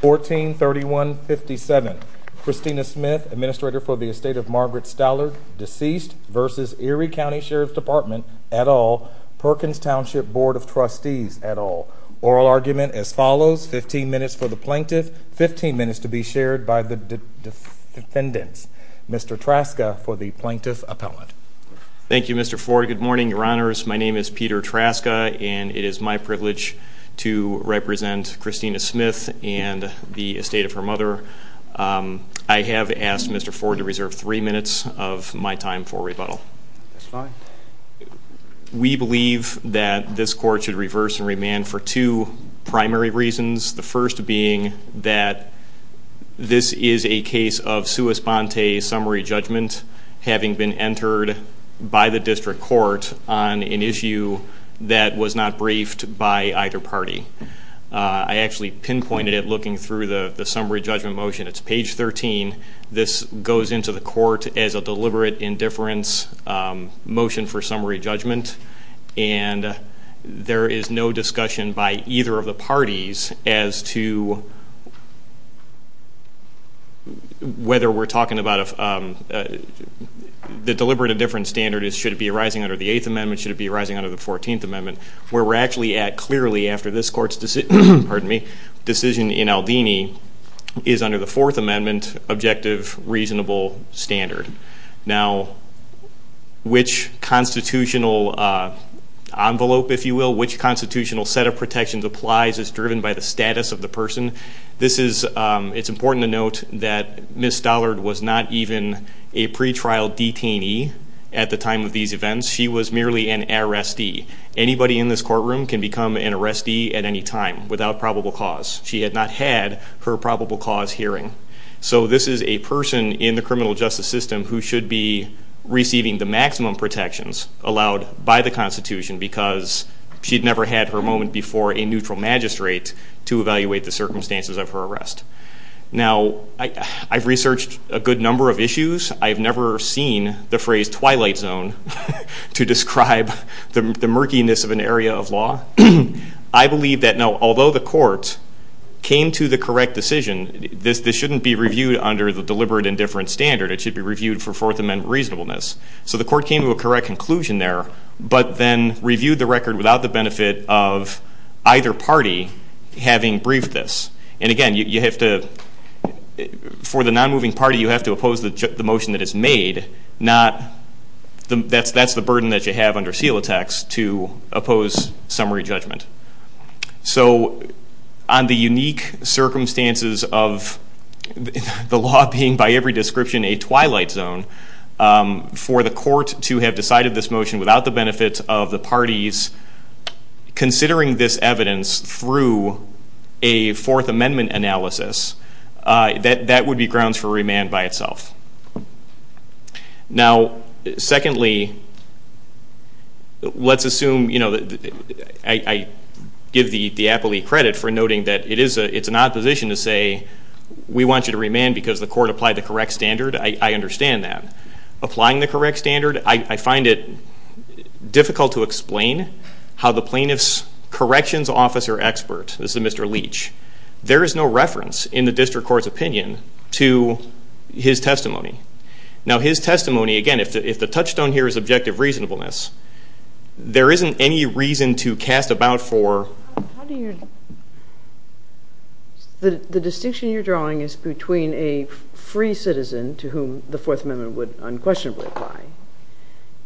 1431 57 Christina Smith administrator for the estate of Margaret Stallard deceased versus Erie County Sheriff's Department et al. Perkins Township Board of Trustees et al. Oral argument as follows 15 minutes for the plaintiff 15 minutes to be shared by the defendants. Mr. Traska for the plaintiff appellant. Thank You Mr. Ford good morning your honors my name is Peter Traska and it is my privilege to represent Christina Smith and the estate of her mother. I have asked Mr. Ford to reserve three minutes of my time for rebuttal. We believe that this court should reverse and remand for two primary reasons the first being that this is a case of sua sponte summary judgment having been entered by the district court on an issue that was not briefed by either party. I actually pinpointed it looking through the summary judgment motion it's page 13 this goes into the court as a deliberate indifference motion for summary judgment and there is no discussion by either of parties as to whether we're talking about if the deliberate indifference standard is should it be arising under the Eighth Amendment should it be arising under the 14th Amendment where we're actually at clearly after this court's decision pardon me decision in Aldini is under the Fourth Amendment objective reasonable standard. Now which constitutional envelope if you will which constitutional set of protections applies is driven by the status of the person this is it's important to note that Miss Stollard was not even a pretrial detainee at the time of these events she was merely an arrestee anybody in this courtroom can become an arrestee at any time without probable cause she had not had her probable cause hearing so this is a person in the criminal justice system who should be receiving the maximum protections allowed by the Constitution because she'd never had her moment before a neutral magistrate to evaluate the circumstances of her arrest. Now I've researched a good number of issues I've never seen the phrase Twilight Zone to describe the murkiness of an area of law I believe that no although the court came to the correct decision this this shouldn't be reviewed under the deliberate indifference standard it should be reviewed for Fourth Amendment reasonableness so the court came to a correct conclusion there but then reviewed the record without the benefit of either party having briefed this and again you have to for the non-moving party you have to oppose the motion that is made not the that's that's the burden that you have under seal attacks to oppose summary judgment. So on the unique circumstances of the law being by every description a Twilight Zone for the court to have decided this motion without the benefits of the parties considering this evidence through a Fourth Amendment analysis that that would be grounds for remand by itself. Now secondly let's assume you know that I give the the appellee credit for noting that it is a it's an opposition to say we want you to remand because the standard I understand that. Applying the correct standard I find it difficult to explain how the plaintiff's corrections officer expert this is Mr. Leach there is no reference in the district court's opinion to his testimony. Now his testimony again if the touchstone here is objective reasonableness there isn't any reason to cast about for... The distinction you're drawing is between a free citizen to whom the Fourth Amendment would unquestionably apply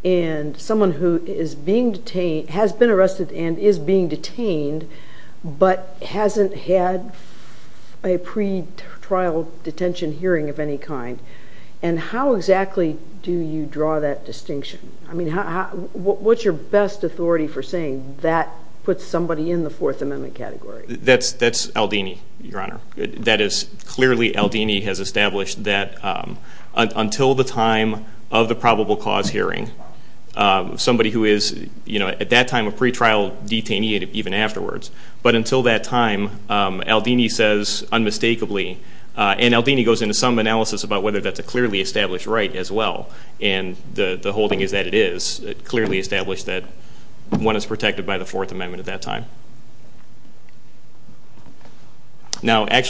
and someone who is being detained has been arrested and is being detained but hasn't had a pretrial detention hearing of any kind and how exactly do you draw that distinction? I mean what's your best authority for saying that puts somebody in the Fourth Amendment category? That's that's Aldini your honor that is clearly Aldini has established that until the time of the probable cause hearing somebody who is you know at that time a pretrial detainee even afterwards but until that time Aldini says unmistakably and Aldini goes into some analysis about whether that's a clearly established right as well and the the holding is that it is clearly established that one is protected by the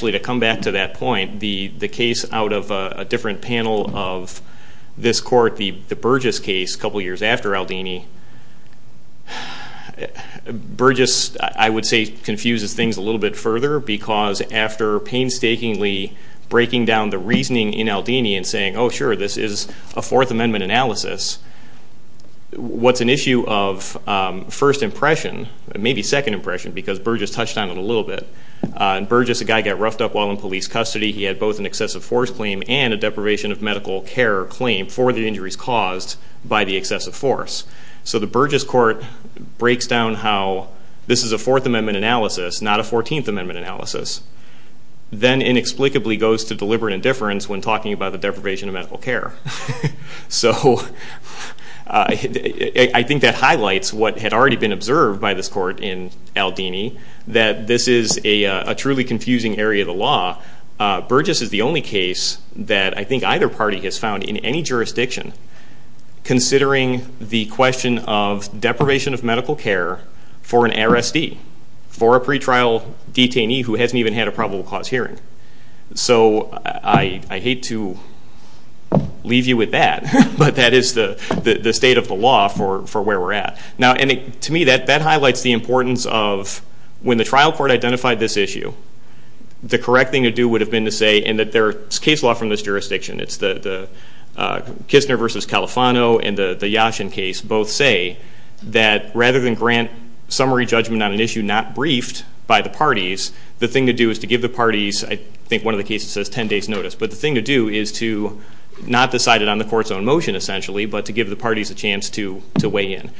to come back to that point the the case out of a different panel of this court the the Burgess case a couple years after Aldini, Burgess I would say confuses things a little bit further because after painstakingly breaking down the reasoning in Aldini and saying oh sure this is a Fourth Amendment analysis what's an issue of first impression maybe second impression because Burgess touched on it a little bit and Burgess a guy got roughed up while in police custody he had both an excessive force claim and a deprivation of medical care claim for the injuries caused by the excessive force so the Burgess court breaks down how this is a Fourth Amendment analysis not a 14th Amendment analysis then inexplicably goes to deliberate indifference when talking about the deprivation of medical care so I think that highlights what had been observed by this court in Aldini that this is a truly confusing area of the law Burgess is the only case that I think either party has found in any jurisdiction considering the question of deprivation of medical care for an RSD for a pretrial detainee who hasn't even had a probable cause hearing so I hate to leave you with that but that is the the state of the law for for where we're at now and to me that that highlights the importance of when the trial court identified this issue the correct thing to do would have been to say and that their case law from this jurisdiction it's the Kistner versus Califano and the the Yashin case both say that rather than grant summary judgment on an issue not briefed by the parties the thing to do is to give the parties I think one of the cases says ten days notice but the thing to do is to not decide it on the court's own motion essentially but to give the parties a chance to to weigh in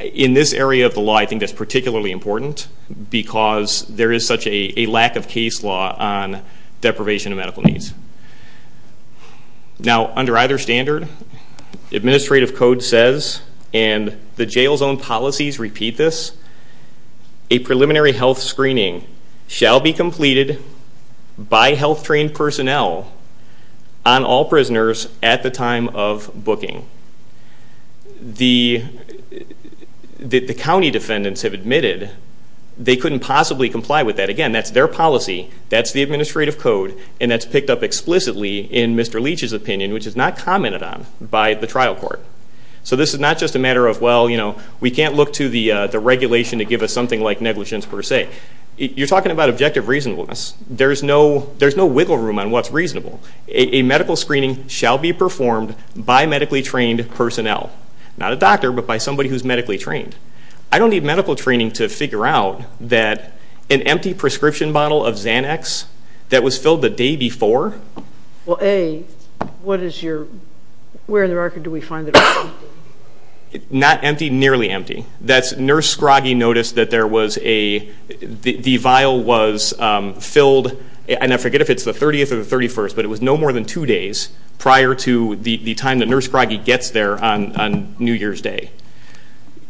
in this area of the law I think that's particularly important because there is such a lack of case law on deprivation of medical needs now under either standard administrative code says and the jail zone policies repeat this a preliminary health screening shall be completed by health trained personnel on all prisoners at the time of booking the the county defendants have admitted they couldn't possibly comply with that again that's their policy that's the administrative code and that's picked up explicitly in Mr. Leach's opinion which is not commented on by the trial court so this is not just a matter of well you know we can't look to the the regulation to give us something like negligence per se you're talking about objective reasonableness there's no there's no screening shall be performed by medically trained personnel not a doctor but by somebody who's medically trained I don't need medical training to figure out that an empty prescription bottle of Xanax that was filled the day before well a what is your where in the record do we find it not empty nearly empty that's nurse Scroggie noticed that there was a the vial was filled and I forget if it's the 30th or the 31st but it was no more than two days prior to the time the nurse Scroggie gets there on New Year's Day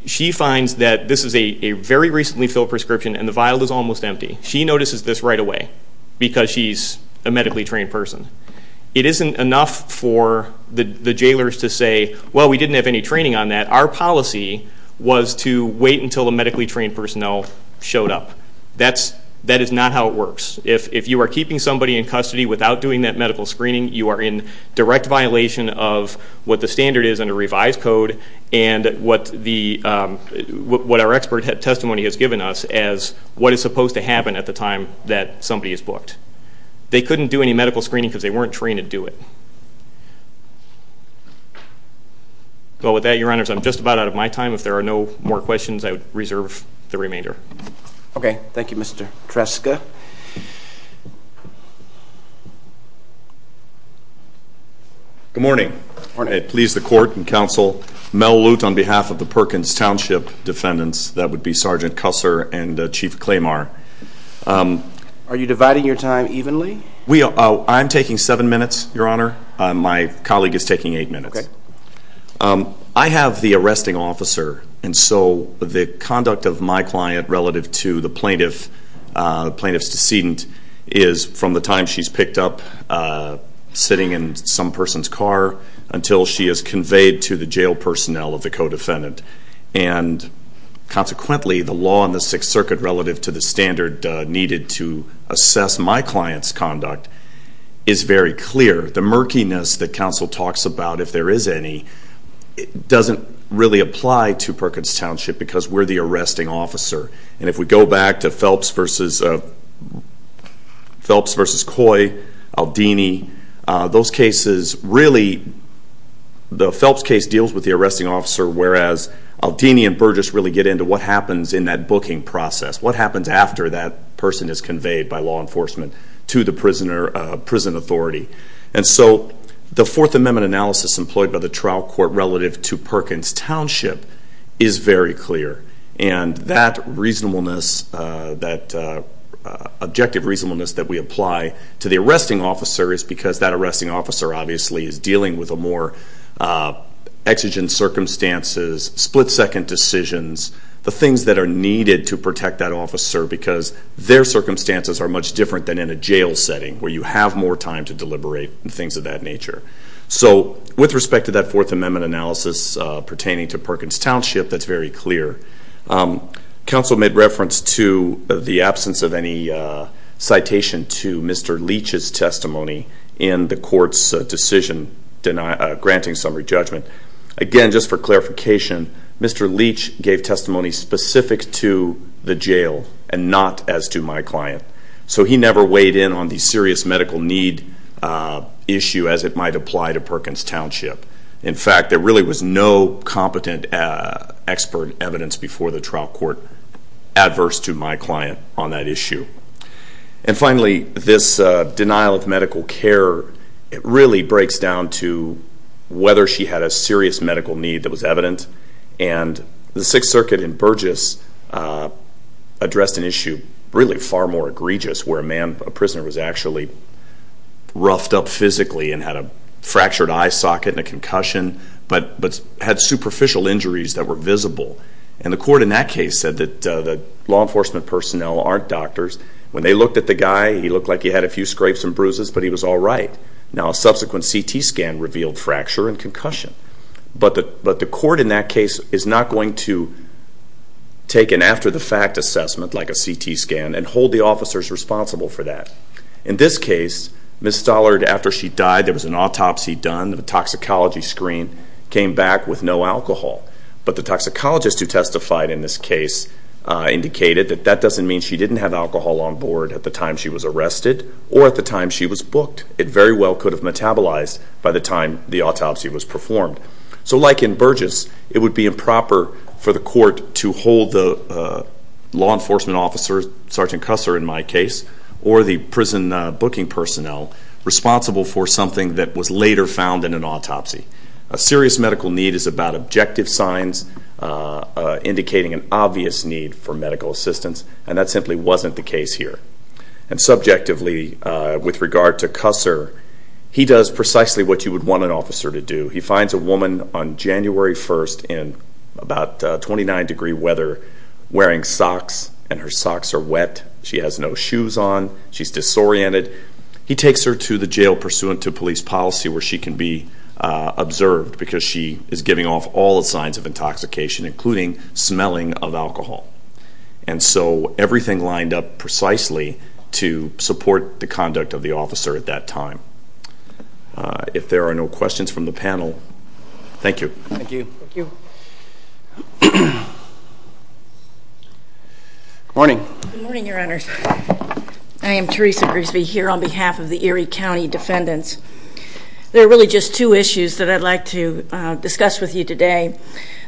she finds that this is a very recently filled prescription and the vial is almost empty she notices this right away because she's a medically trained person it isn't enough for the the jailers to say well we didn't have any training on that our policy was to wait until the medically trained personnel showed up that's that is not how it works if if you are keeping somebody in custody without doing that medical screening you are in direct violation of what the standard is under revised code and what the what our expert testimony has given us as what is supposed to happen at the time that somebody is booked they couldn't do any medical screening because they weren't trained to do it well with that your honors I'm just about out of my time if there are no more questions I would Tresca good morning please the court and counsel Mel Lute on behalf of the Perkins Township defendants that would be sergeant Cusser and chief Claymar are you dividing your time evenly we are I'm taking seven minutes your honor my colleague is taking eight minutes I have the arresting officer and so the conduct of my client relative to the plaintiff plaintiff's decedent is from the time she's picked up sitting in some person's car until she is conveyed to the jail personnel of the co-defendant and consequently the law in the Sixth Circuit relative to the standard needed to assess my clients conduct is very clear the murkiness that counsel talks about if there is any it doesn't really apply to Perkins Township because we're the arresting officer and if we go back to Phelps versus a Phelps versus Coy Aldini those cases really the Phelps case deals with the arresting officer whereas Aldini and Burgess really get into what happens in that booking process what happens after that person is conveyed by law enforcement to the prisoner prison authority and so the Fourth Amendment analysis employed by the trial court relative to Perkins Township is very clear and that reasonableness that objective reasonableness that we apply to the arresting officer is because that arresting officer obviously is dealing with a more exigent circumstances split-second decisions the things that are needed to protect that officer because their circumstances are much different than in a jail setting where you have more time to deliberate and things of that nature so with respect to that Fourth Amendment analysis pertaining to Perkins Township that's very clear. Counsel made reference to the absence of any citation to Mr. Leach's testimony in the court's decision granting summary judgment again just for clarification Mr. Leach gave testimony specific to the jail and not as to my client so he never weighed in on the serious medical need issue as it might apply to Perkins Township in fact there really was no competent expert evidence before the trial court adverse to my client on that issue and finally this denial of medical care it really breaks down to whether she had a serious medical need that was evident and the Sixth Circuit in Burgess addressed an issue really far more egregious where a man a prisoner was actually roughed up fractured eye socket in a concussion but had superficial injuries that were visible and the court in that case said that the law enforcement personnel aren't doctors when they looked at the guy he looked like he had a few scrapes and bruises but he was all right now subsequent CT scan revealed fracture and concussion but the court in that case is not going to take an after the fact assessment like a CT scan and hold the officers responsible for that in this case Miss Stollard after she died there was an autopsy done the toxicology screen came back with no alcohol but the toxicologist who testified in this case indicated that that doesn't mean she didn't have alcohol on board at the time she was arrested or at the time she was booked it very well could have metabolized by the time the autopsy was performed so like in Burgess it would be improper for the court to hold the law enforcement officer sergeant Cusser in my case or the prison booking personnel responsible for something that was later found in an autopsy a serious medical need is about objective signs indicating an obvious need for medical assistance and that simply wasn't the case here and subjectively with regard to Cusser he does precisely what you would want an officer to do he finds a woman on socks are wet she has no shoes on she's disoriented he takes her to the jail pursuant to police policy where she can be observed because she is giving off all the signs of intoxication including smelling of alcohol and so everything lined up precisely to support the conduct of the officer at that time if there are no questions from the panel thank you I am Teresa Grigsby here on behalf of the Erie County defendants there are really just two issues that I'd like to discuss with you today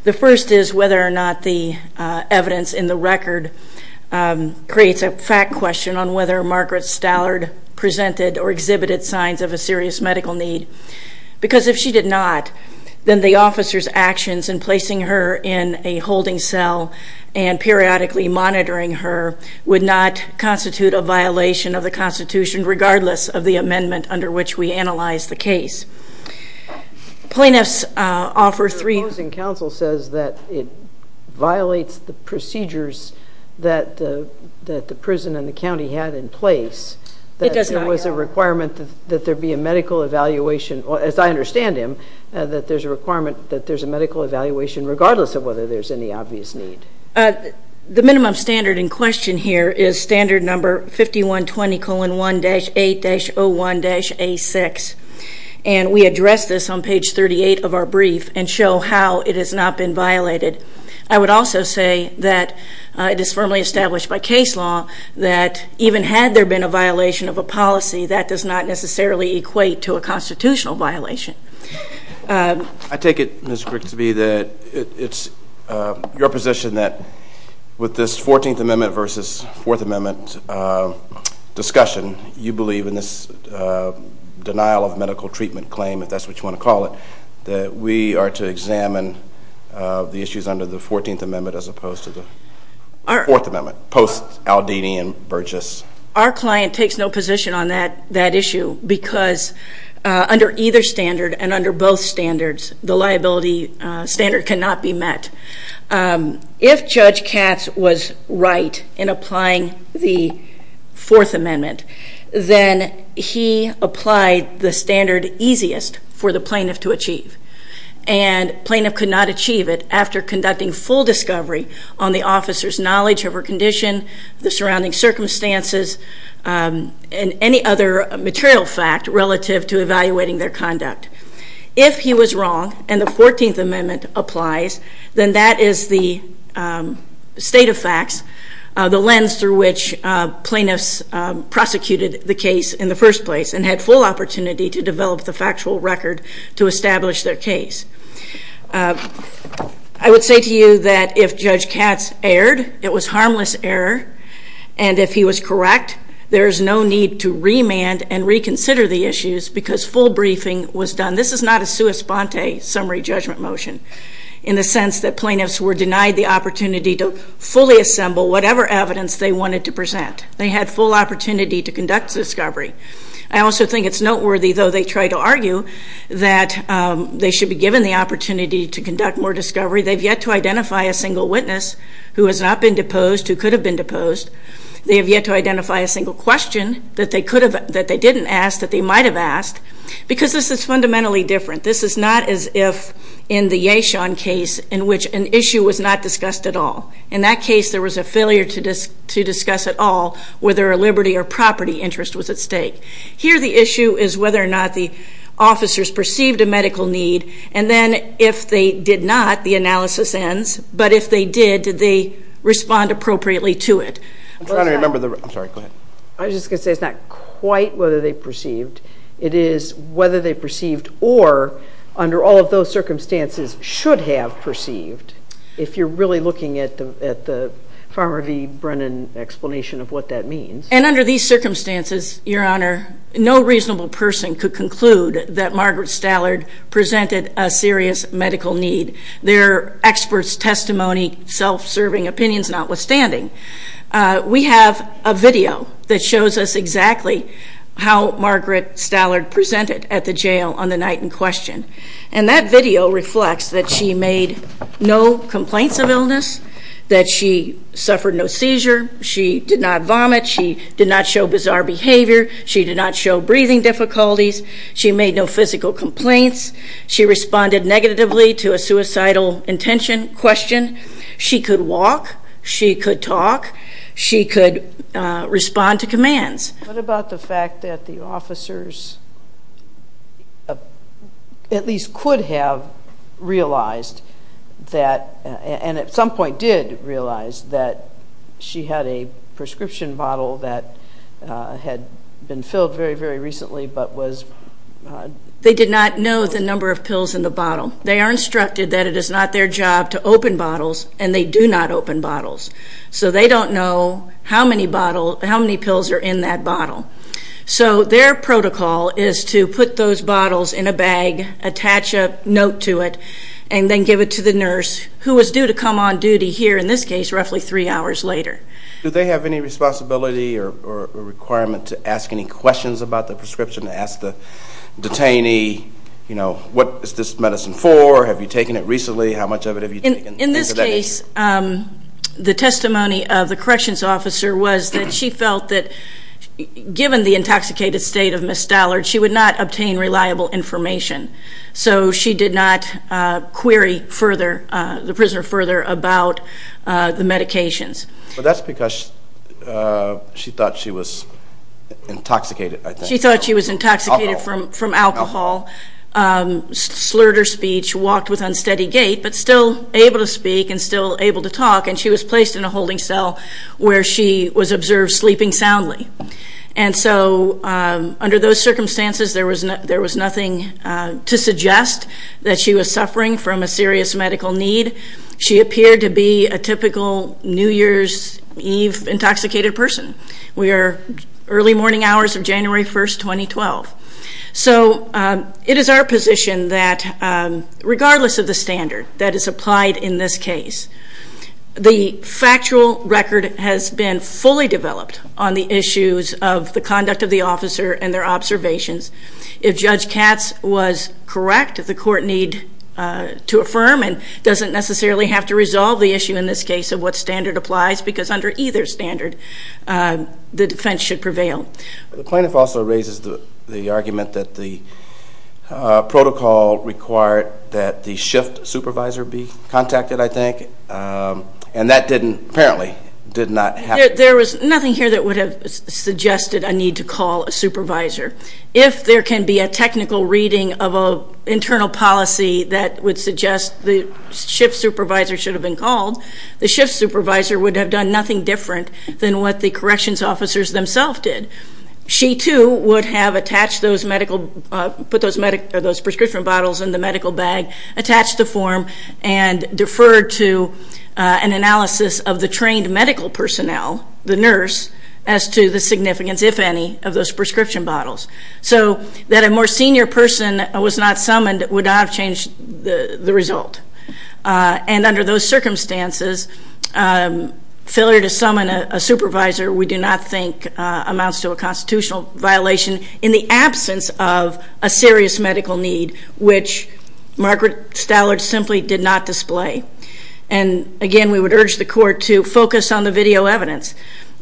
the first is whether or not the evidence in the record creates a fact question on whether Margaret Stallard presented or exhibited signs of a serious medical need because if she did not then the officers actions in placing her in a holding cell and periodically monitoring her would not constitute a violation of the Constitution regardless of the amendment under which we analyze the case plaintiffs offer three... The opposing counsel says that it violates the procedures that the prison in the county had in place that there was a requirement that there be a medical evaluation as I understand him that there's a requirement that there's a medical evaluation regardless of whether there's any obvious need. The minimum standard in question here is standard number 5120 colon 1-8-01-A6 and we address this on page 38 of our brief and show how it has not been violated I would also say that it is firmly established by case law that even had there been a violation of a policy that does not necessarily equate to a constitutional violation. I take it Ms. Grigsby that it's your position that with this 14th amendment versus fourth amendment discussion you believe in this denial of medical treatment claim if that's what you want to call it that we are to examine the 14th amendment as opposed to the fourth amendment post Aldini and Burgess. Our client takes no position on that that issue because under either standard and under both standards the liability standard cannot be met. If Judge Katz was right in applying the fourth amendment then he applied the standard easiest for the plaintiff to achieve and plaintiff could not achieve it after conducting full discovery on the officer's knowledge of her condition the surrounding circumstances and any other material fact relative to evaluating their conduct. If he was wrong and the 14th amendment applies then that is the state of facts the lens through which plaintiffs prosecuted the case in the to establish their case. I would say to you that if Judge Katz erred it was harmless error and if he was correct there is no need to remand and reconsider the issues because full briefing was done. This is not a sua sponte summary judgment motion in the sense that plaintiffs were denied the opportunity to fully assemble whatever evidence they wanted to present. They had full opportunity to conduct discovery. I also think it's noteworthy though they try to argue that they should be given the opportunity to conduct more discovery. They've yet to identify a single witness who has not been deposed who could have been deposed. They have yet to identify a single question that they didn't ask that they might have asked because this is fundamentally different. This is not as if in the Yashon case in which an issue was not discussed at all. In that case there was a failure to discuss at all whether a liberty or property interest was at all. The question is whether or not the officers perceived a medical need and then if they did not the analysis ends but if they did did they respond appropriately to it. I was just going to say it's not quite whether they perceived it is whether they perceived or under all of those circumstances should have perceived. If you're really looking at the Farmer v. Brennan explanation of what that means. And under these circumstances your honor no reasonable person could conclude that Margaret Stallard presented a serious medical need. Their experts testimony self-serving opinions notwithstanding. We have a video that shows us exactly how Margaret Stallard presented at the jail on the night in question. And that video reflects that she made no complaints of illness, that she suffered no seizure, she did not vomit, she did not show bizarre behavior, she did not show breathing difficulties, she made no physical complaints, she responded negatively to a suicidal intention question, she could walk, she could talk, she could respond to commands. What about the fact that the officers at least could have realized that and at some point did realize that she had a prescription bottle that had been filled very very recently but was. They did not know the number of pills in the bottle. They are instructed that it is not their job to open bottles and they do not open bottles. So they don't know how many pills are in that bottle. So their protocol is to put those bottles in a bag, attach a note to it, and then give it to the nurse who was due to come on duty here, in this case, roughly three hours later. Do they have any responsibility or requirement to ask any questions about the prescription, to ask the detainee, you know, what is this medicine for, have you taken it recently, how much of it have you taken? In this case, the testimony of the corrections officer was that she felt that given the intoxicated state of Ms. Stallard, she would not obtain reliable information. So she did not query further, the prisoner further about the medications. But that's because she thought she was intoxicated. She thought she was intoxicated from alcohol, slurred her speech, walked with unsteady gait, but still able to speak and still able to talk and she was placed in a holding cell where she was observed sleeping soundly. And so under those circumstances there was nothing to suggest that she was she appeared to be a typical New Year's Eve intoxicated person. We are early morning hours of January 1st, 2012. So it is our position that regardless of the standard that is applied in this case, the factual record has been fully developed on the issues of the conduct of the officer and their observations. If Judge Katz was correct, the court need to affirm and doesn't necessarily have to resolve the issue in this case of what standard applies because under either standard the defense should prevail. The plaintiff also raises the argument that the protocol required that the shift supervisor be contacted, I think, and that didn't, apparently, did not happen. There was nothing here that would have been a technical reading of an internal policy that would suggest the shift supervisor should have been called. The shift supervisor would have done nothing different than what the corrections officers themselves did. She, too, would have attached those medical, put those prescription bottles in the medical bag, attached the form, and deferred to an analysis of the trained medical personnel, the nurse, as to the significance, if any, of those more senior person was not summoned, would not have changed the result. And under those circumstances, failure to summon a supervisor, we do not think, amounts to a constitutional violation in the absence of a serious medical need, which Margaret Stallard simply did not display. And, again, we would urge the court to focus on the video evidence.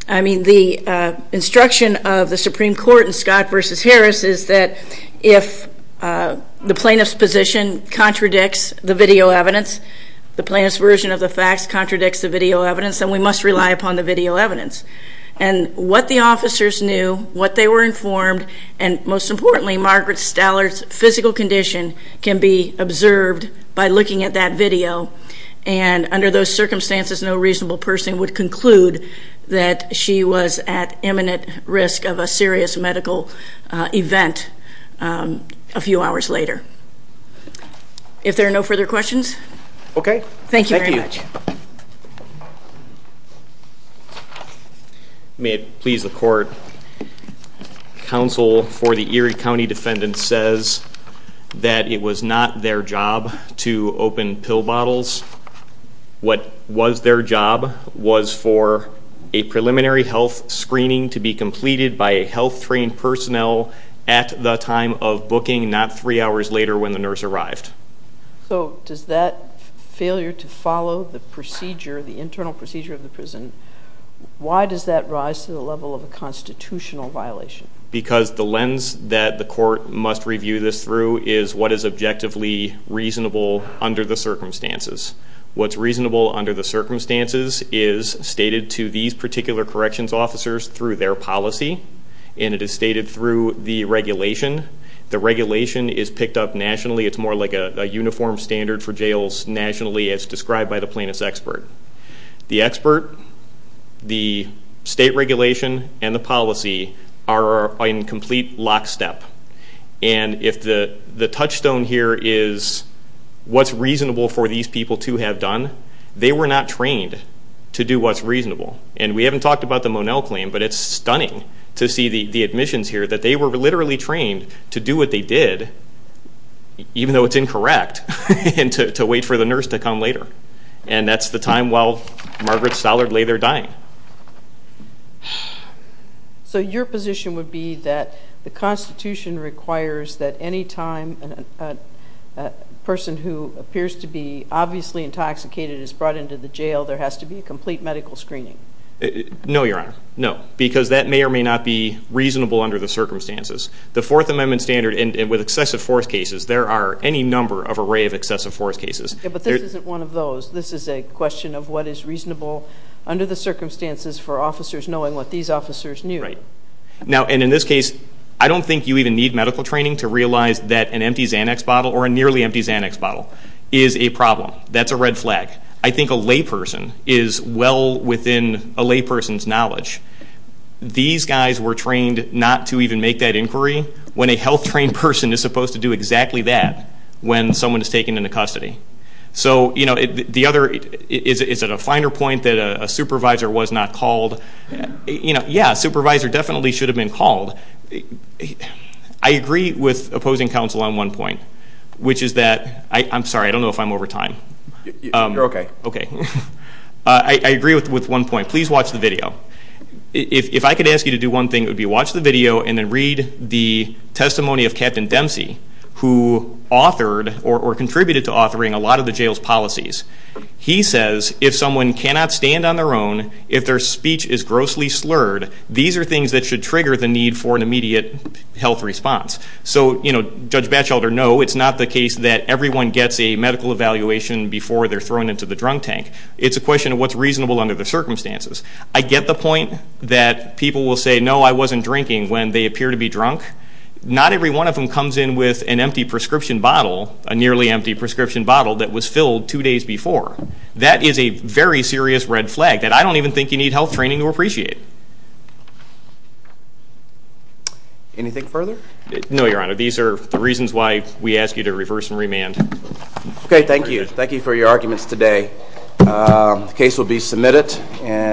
I mean, the instruction of the Supreme Court in the plaintiff's position contradicts the video evidence. The plaintiff's version of the facts contradicts the video evidence, and we must rely upon the video evidence. And what the officers knew, what they were informed, and, most importantly, Margaret Stallard's physical condition can be observed by looking at that video. And under those circumstances, no reasonable person would conclude that she was at imminent risk of a serious medical event a few hours later. If there are no further questions? Okay. Thank you very much. May it please the court, counsel for the Erie County defendant says that it was not their job to open pill bottles. What was their job was for a preliminary health screening to be completed by a health trained personnel at the time of booking, not three hours later when the nurse arrived. So does that failure to follow the procedure, the internal procedure of the prison, why does that rise to the level of a constitutional violation? Because the lens that the court must review this through is what is objectively reasonable under the circumstances. What's reasonable under the circumstances is stated to these particular corrections officers through their policy, and it is stated through the regulation. The regulation is picked up nationally. It's more like a uniform standard for jails nationally as described by the plaintiff's expert. The expert, the state regulation, and the incomplete lockstep. And if the the touchstone here is what's reasonable for these people to have done, they were not trained to do what's reasonable. And we haven't talked about the Monell claim, but it's stunning to see the admissions here that they were literally trained to do what they did, even though it's incorrect, and to wait for the nurse to come later. And that's the time while Margaret Stollard lay there dying. So your position would be that the Constitution requires that any time a person who appears to be obviously intoxicated is brought into the jail, there has to be a complete medical screening. No, Your Honor. No, because that may or may not be reasonable under the circumstances. The Fourth Amendment Standard, and with excessive force cases, there are any number of array of excessive force cases. But this isn't one of those. This is a question of what is reasonable under the circumstances for officers knowing what these officers knew. Right. Now, and in this case, I don't think you even need medical training to realize that an empty Xanax bottle or a nearly empty Xanax bottle is a problem. That's a red flag. I think a layperson is well within a layperson's knowledge. These guys were trained not to even make that inquiry, when a health trained person is supposed to do exactly that when someone is taken into custody. So the other... Is it a finer point that a supervisor was not called? Yeah, a supervisor definitely should have been called. I agree with opposing counsel on one point, which is that... I'm sorry, I don't know if I'm over time. You're okay. Okay. I agree with one point. Please watch the video. If I could ask you to do one thing, it would be watch the video and then read the video. I have a friend who authored or contributed to authoring a lot of the jail's policies. He says, if someone cannot stand on their own, if their speech is grossly slurred, these are things that should trigger the need for an immediate health response. So Judge Batchelder, no, it's not the case that everyone gets a medical evaluation before they're thrown into the drunk tank. It's a question of what's reasonable under the circumstances. I get the point that people will say, no, I wasn't drinking when they appear to be drunk. Not every one of them comes in with an empty prescription bottle, a nearly empty prescription bottle that was filled two days before. That is a very serious red flag that I don't even think you need health training to appreciate. Anything further? No, Your Honor. These are the reasons why we ask you to reverse and remand. Okay, thank you. Thank you for your arguments today. The case will be submitted and...